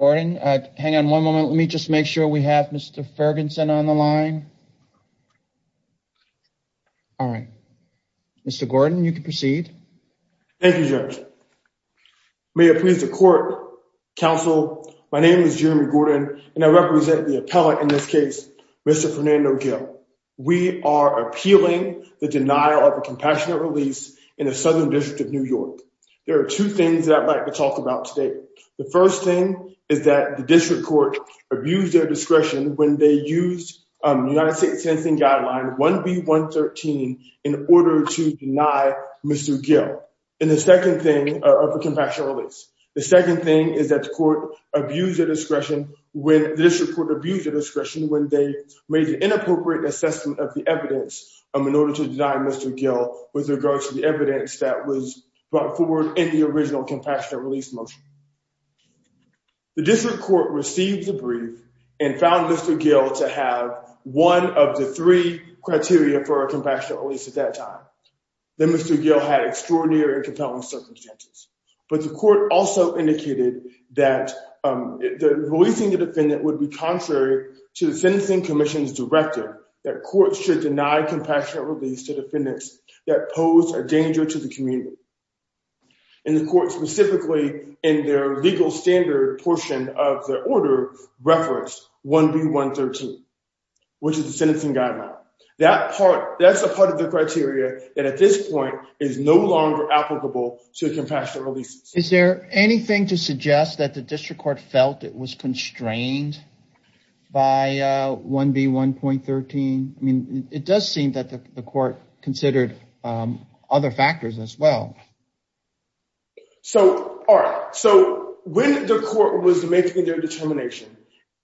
Gordon, hang on one moment, let me just make sure we have Mr. Ferguson on the line. All right, Mr. Gordon, you can proceed. Thank you, Judge. May it please the court, counsel, my name is Jeremy Gordon, and I represent the appellant in this case, Mr. Fernando Gil. We are appealing the denial of a compassionate release in the Southern District of New York. There are two things that I'd like to talk about today. The first thing is that the district court abused their discretion when they made the inappropriate assessment of the evidence in order to deny Mr. Gil with regards to the evidence that was brought forward in the original compassionate release motion. The district court received the brief and found Mr. Gil to have one of the three circumstances. But the court also indicated that releasing the defendant would be contrary to the sentencing commission's directive that courts should deny compassionate release to defendants that pose a danger to the community. And the court specifically in their legal standard portion of the order referenced 1B113, which is the sentencing guideline. That's a part of the applicable to compassionate releases. Is there anything to suggest that the district court felt it was constrained by 1B113? I mean, it does seem that the court considered other factors as well. So, all right, so when the court was making their determination,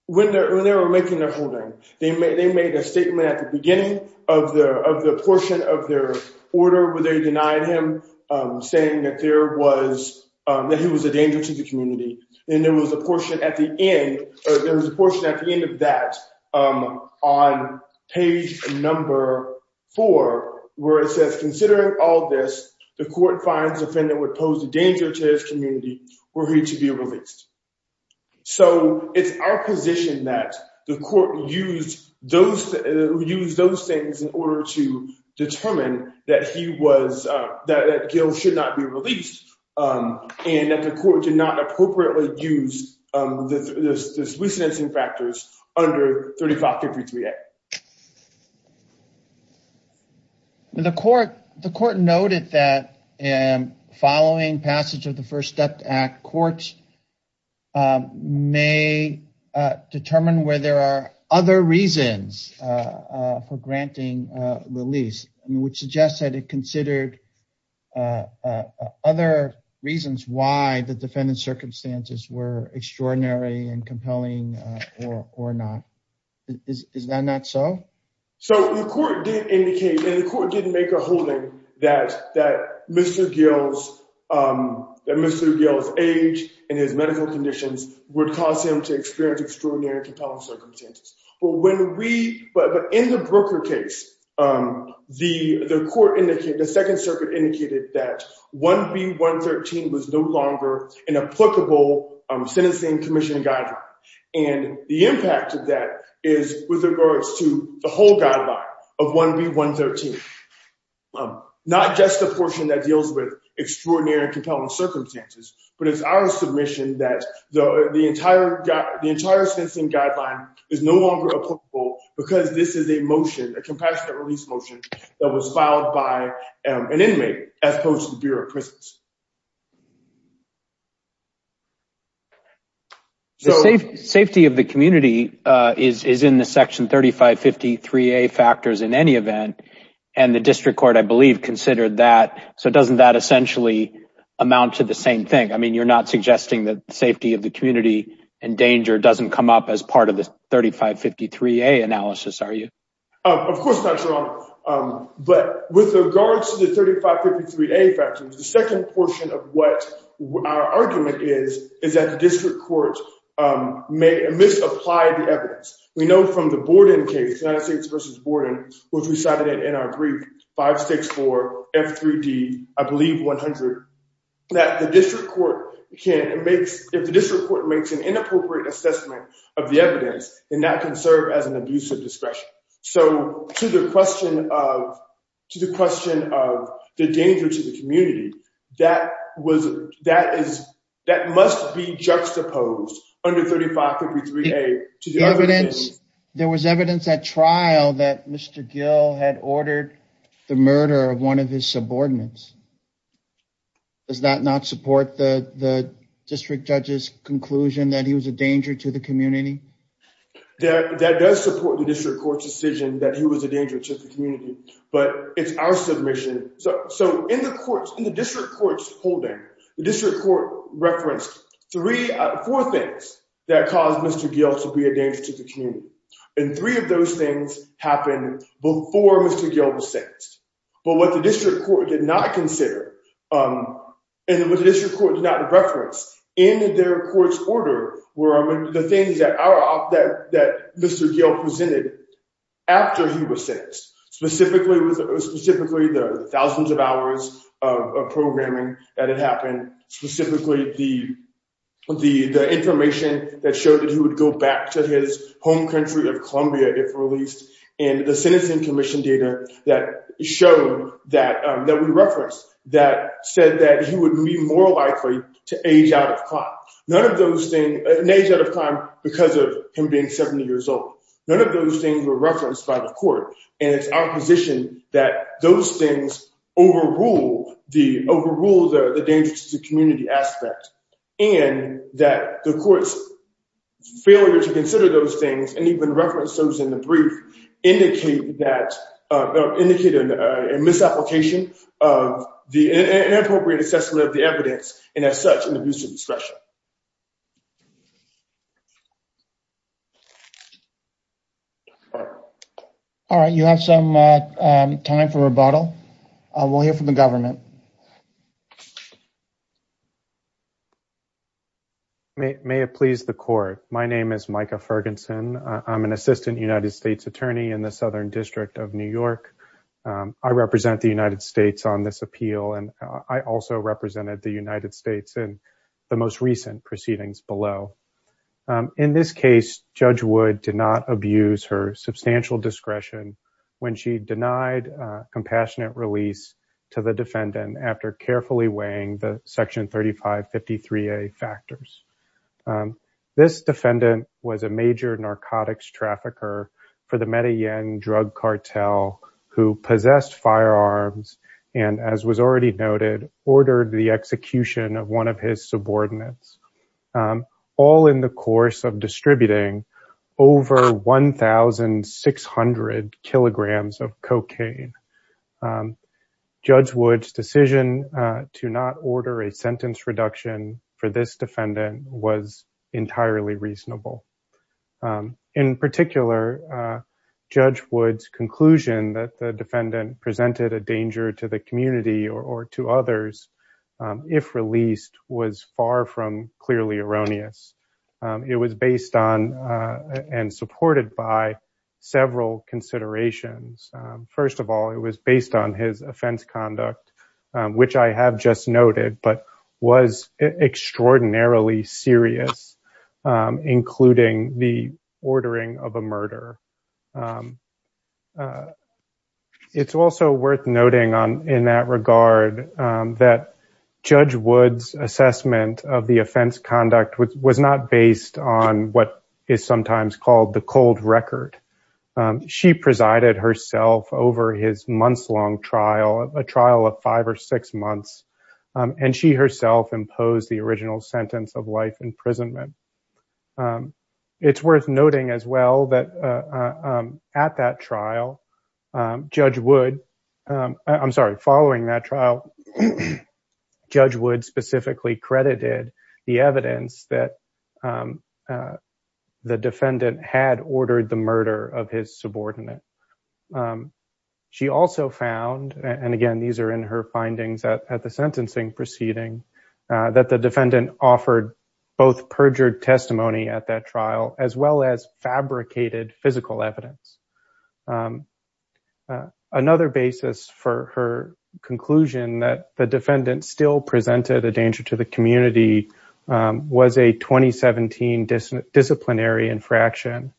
when they were making their holding, they made a statement at the beginning of the portion of their order where they denied him saying that he was a danger to the community. And there was a portion at the end of that on page number four where it says, considering all this, the court finds the defendant would pose a danger to his community were he to be released. So, it's our position that the court used those things in order to determine that he was, that Gil should not be released and that the court did not appropriately use the sentencing factors under 3553A. The court noted that following passage of the First Step Act, courts may determine where there are other reasons for granting release, which suggests that it considered other reasons why the defendant's circumstances were extraordinary and compelling or not. Is that not so? So, the court did indicate and the court did make a holding that Mr. Gil's that Mr. Gil's age and his medical conditions would cause him to experience extraordinary compelling circumstances. But when we, but in the Brooker case, the court indicated, the Second Circuit indicated that 1B113 was no longer an applicable sentencing commission guideline. And the impact of that is with regards to the whole guideline of 1B113. Not just the portion that deals with extraordinary compelling circumstances, but it's our submission that the entire, the entire sentencing guideline is no longer applicable because this is a motion, a compassionate release motion that was filed by an inmate as opposed to the Bureau of Prisons. So, the safety of the community is in the section 3553A factors in any event. And the district court, I believe, considered that. So, doesn't that essentially amount to the same thing? I mean, you're not suggesting that safety of the community and danger doesn't come up as part of the 3553A analysis, are you? Of course not, Your Honor. But with regards to 3553A factors, the second portion of what our argument is, is that the district court misapplied the evidence. We know from the Borden case, United States versus Borden, which we cited in our brief, 564F3D, I believe 100, that the district court can, it makes, if the district court makes an inappropriate assessment of the evidence, then that can serve as an abuse of discretion. So, to the question of, to the question of the danger to the community, that was, that is, that must be juxtaposed under 3553A. There was evidence at trial that Mr. Gill had ordered the murder of one of his subordinates. Does that not support the district judge's conclusion that he was a danger to the community? That does support the district court's decision that he was a danger to the community, but it's our submission. So, in the courts, in the district court's holding, the district court referenced three, four things that caused Mr. Gill to be a danger to the community. And three of those things happened before Mr. Gill was sentenced. But what the district court did not consider, and what the district court did not reference in their court's were the things that Mr. Gill presented after he was sentenced. Specifically, the thousands of hours of programming that had happened, specifically the information that showed that he would go back to his home country of Columbia if released, and the sentencing commission data that showed, that we referenced, that said that he would be more likely to age out of crime because of him being 70 years old. None of those things were referenced by the court, and it's our position that those things overrule the danger to the community aspect, and that the court's failure to consider those things and even reference those in the brief indicate a misapplication of the inappropriate assessment of the evidence, and as such, an abuse of discretion. All right, you have some time for rebuttal. We'll hear from the government. May it please the court. My name is Micah Ferguson. I'm an assistant United States attorney in the Southern District of New York. I represent the United States on this appeal, and I also represented the United States in the most recent proceedings below. In this case, Judge Wood did not abuse her substantial discretion when she denied compassionate release to the defendant after carefully weighing the section 3553a factors. This defendant was a major narcotics trafficker for the Medellin drug cartel who possessed firearms and, as was already noted, ordered the execution of one of his subordinates, all in the course of distributing over 1,600 kilograms of cocaine. Judge Wood's decision to not order a sentence reduction for this defendant was entirely reasonable. In particular, Judge Wood's conclusion that the defendant presented a danger to the clearly erroneous. It was based on and supported by several considerations. First of all, it was based on his offense conduct, which I have just noted, but was extraordinarily serious, including the ordering of a murder. It's also worth noting in that regard that Judge Wood's offense conduct was not based on what is sometimes called the cold record. She presided herself over his months-long trial, a trial of five or six months, and she herself imposed the original sentence of life imprisonment. It's worth noting as well that at that trial, Judge Wood, I'm sorry, following that trial, Judge Wood specifically credited the evidence that the defendant had ordered the murder of his subordinate. She also found, and again these are in her findings at the sentencing proceeding, that the defendant offered both perjured testimony at that trial as well as fabricated physical evidence. Another basis for her conclusion that the defendant still presented a danger to the community was a 2017 disciplinary infraction.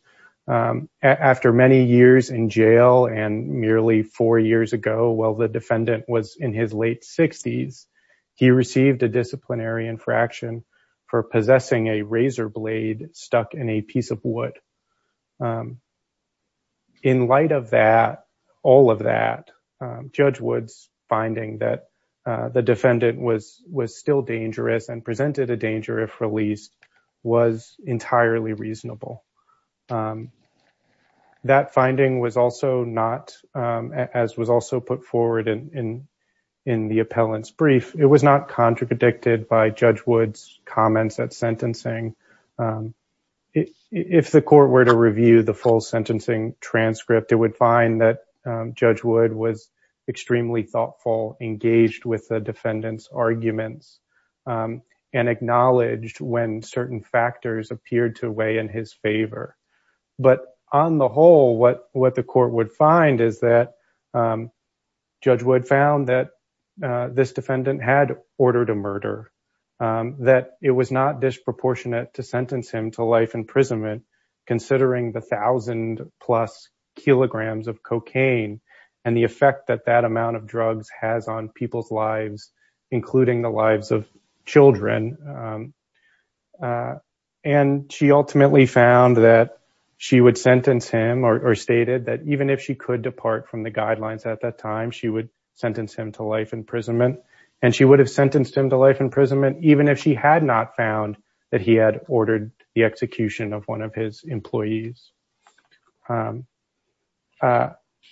After many years in jail and nearly four years ago, while the defendant was in his late 60s, he received a disciplinary infraction for possessing a razor blade stuck in a piece of wood. In light of that, all of that, Judge Wood's finding that the defendant was still dangerous and presented a danger if released was entirely reasonable. That finding was also not, as was also put forward in the appellant's brief, it was not contradicted by Judge Wood's comments at sentencing. If the court were to review the full sentencing transcript, it would find that Judge Wood was extremely thoughtful, engaged with the defendant's arguments, and acknowledged when certain factors appeared to weigh in his favor. But on the whole, what the court would find is that Judge Wood found that this defendant had ordered a murder, that it was not disproportionate to sentence him to life imprisonment considering the thousand plus kilograms of cocaine and the effect that that amount of drugs has on she would sentence him or stated that even if she could depart from the guidelines at that time, she would sentence him to life imprisonment, and she would have sentenced him to life imprisonment even if she had not found that he had ordered the execution of one of his employees.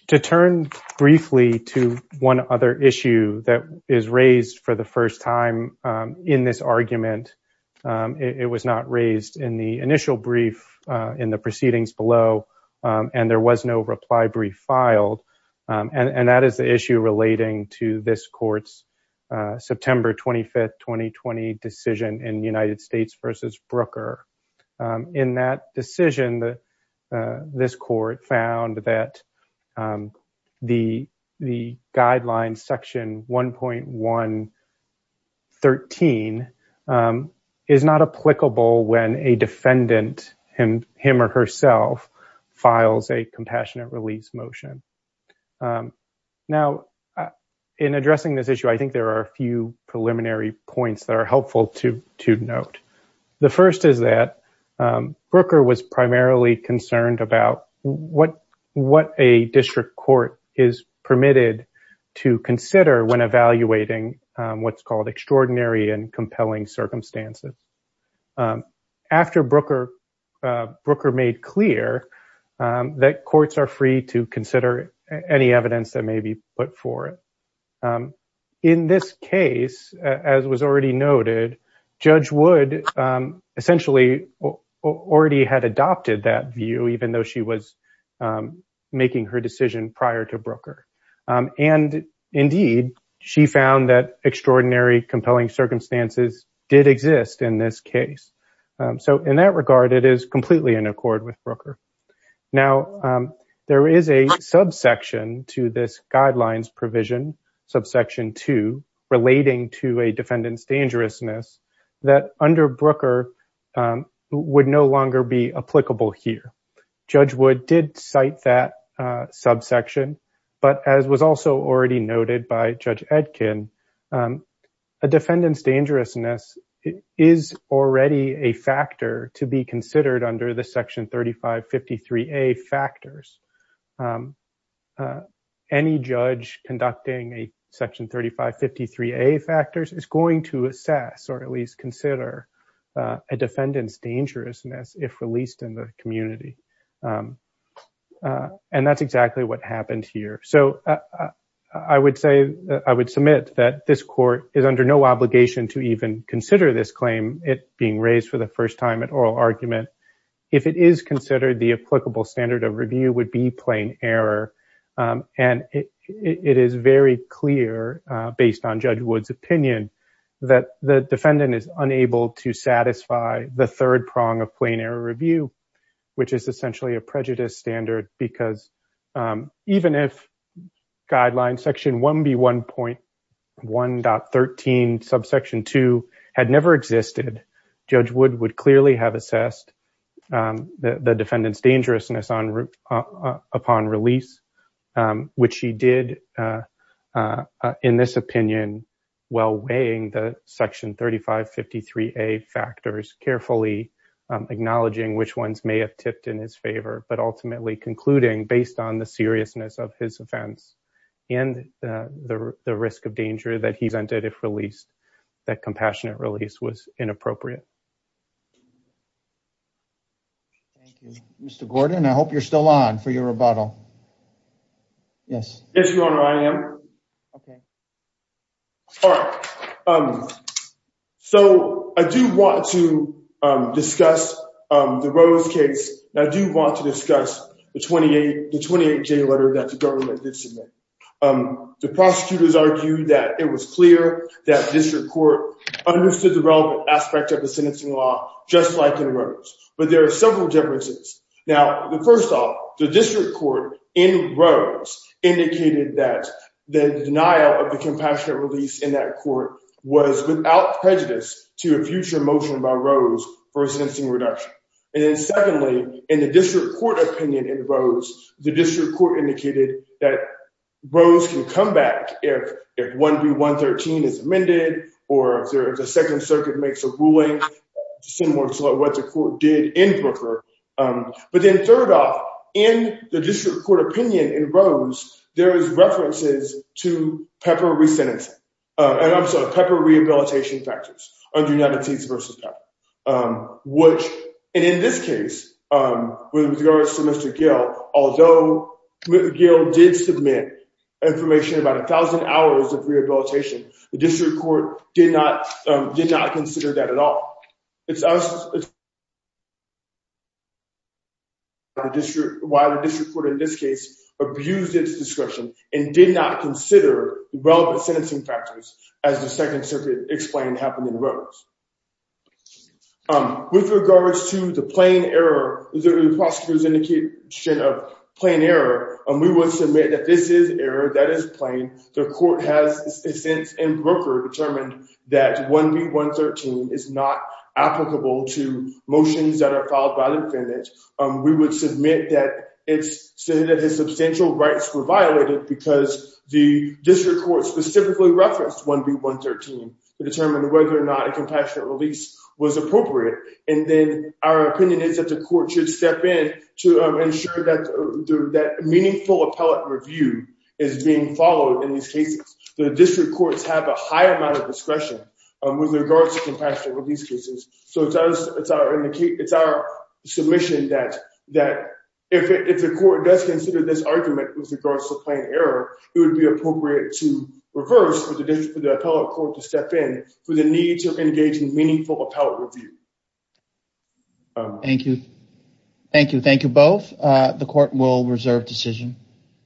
To turn briefly to one other issue that is raised for the first time in this argument, it was not raised in the initial brief in the proceedings below, and there was no reply brief filed, and that is the issue relating to this court's September 25th, 2020 decision in United which is on page 113, is not applicable when a defendant, him or herself, files a compassionate release motion. Now, in addressing this issue, I think there are a few preliminary points that are primarily concerned about what a district court is permitted to consider when evaluating what's called extraordinary and compelling circumstances. After Brooker made clear that courts are free to consider any evidence that may be put forth, in this case, as was already noted, Judge Wood essentially already had adopted that view even though she was making her decision prior to Brooker, and indeed, she found that extraordinary compelling circumstances did exist in this case. So, in that regard, it is completely in accord with Brooker. Now, there is a subsection to this guidelines provision, subsection 2, relating to a defendant's dangerousness that under Brooker would no longer be applicable here. Judge Wood did cite that subsection, but as was also already noted by Judge Etkin, a defendant's dangerousness is already a factor to be considered under the section 3553A factors. Any judge conducting a section 3553A factors is going to assess or at least consider a defendant's dangerousness if released in the community, and that's exactly what happened here. So, I would say, I would submit that this court is under no obligation to even consider this claim, it being raised for the first time at oral argument. If it is considered, the applicable standard of review would be plain error, and it is very clear, based on Judge Wood's opinion, that the defendant is unable to satisfy the third prong of plain error review, which is essentially a prejudice standard because even if guidelines section 1B1.1.13 subsection 2 had never existed, Judge Wood would clearly have assessed the defendant's dangerousness upon release, which he did in this opinion while weighing the section 3553A factors, carefully acknowledging which ones may have tipped in his favor, but ultimately concluding, based on the seriousness of his offense and the risk of danger that he's under if released, that compassionate release was inappropriate. Thank you. Mr. Gordon, I hope you're still on for your rebuttal. Yes. Yes, Your Honor, I am. Okay. All right. So, I do want to discuss the Rose case, and I do want to discuss the 28-J letter that the government did submit. The prosecutors argued that it was clear that district court understood the relevant aspect of the sentencing law, just like in Rose, but there are several differences. Now, first off, the district court in Rose indicated that the denial of the compassionate release in that court was without prejudice to a future motion by Rose for a sentencing reduction. And then secondly, in the district court opinion in Rose, the district court indicated that Rose can come back if 1B1.13 is amended or if the Second Circuit makes a ruling similar to what the court did in Brooker. But then third off, in the district court opinion in Rose, there is references to PEPA rehabilitation factors under United States v. PEPA. And in this case, with regards to Mr. Gill, although Mr. Gill did submit information about 1,000 hours of rehabilitation, the district court did not consider that at all. It's why the district court in this case abused its discretion and did not consider relevant sentencing factors as the Second Circuit explained happened in Rose. With regards to the plain error, the prosecutor's indication of plain error, we would submit that this is error, that is plain. The court has since in Brooker determined that 1B1.13 is not applicable to motions that are filed by the defendant. We would submit that it's said that substantial rights were violated because the district court specifically referenced 1B1.13 to determine whether or not a compassionate release was appropriate. And then our opinion is that the court should step in to ensure that meaningful appellate review is being followed in these cases. The district courts have a high amount of discretion with regards to compassionate release. With regards to the plain error, it would be appropriate to reverse for the appellate court to step in for the need to engage in meaningful appellate review. Thank you. Thank you. Thank you both. The court will reserve decision.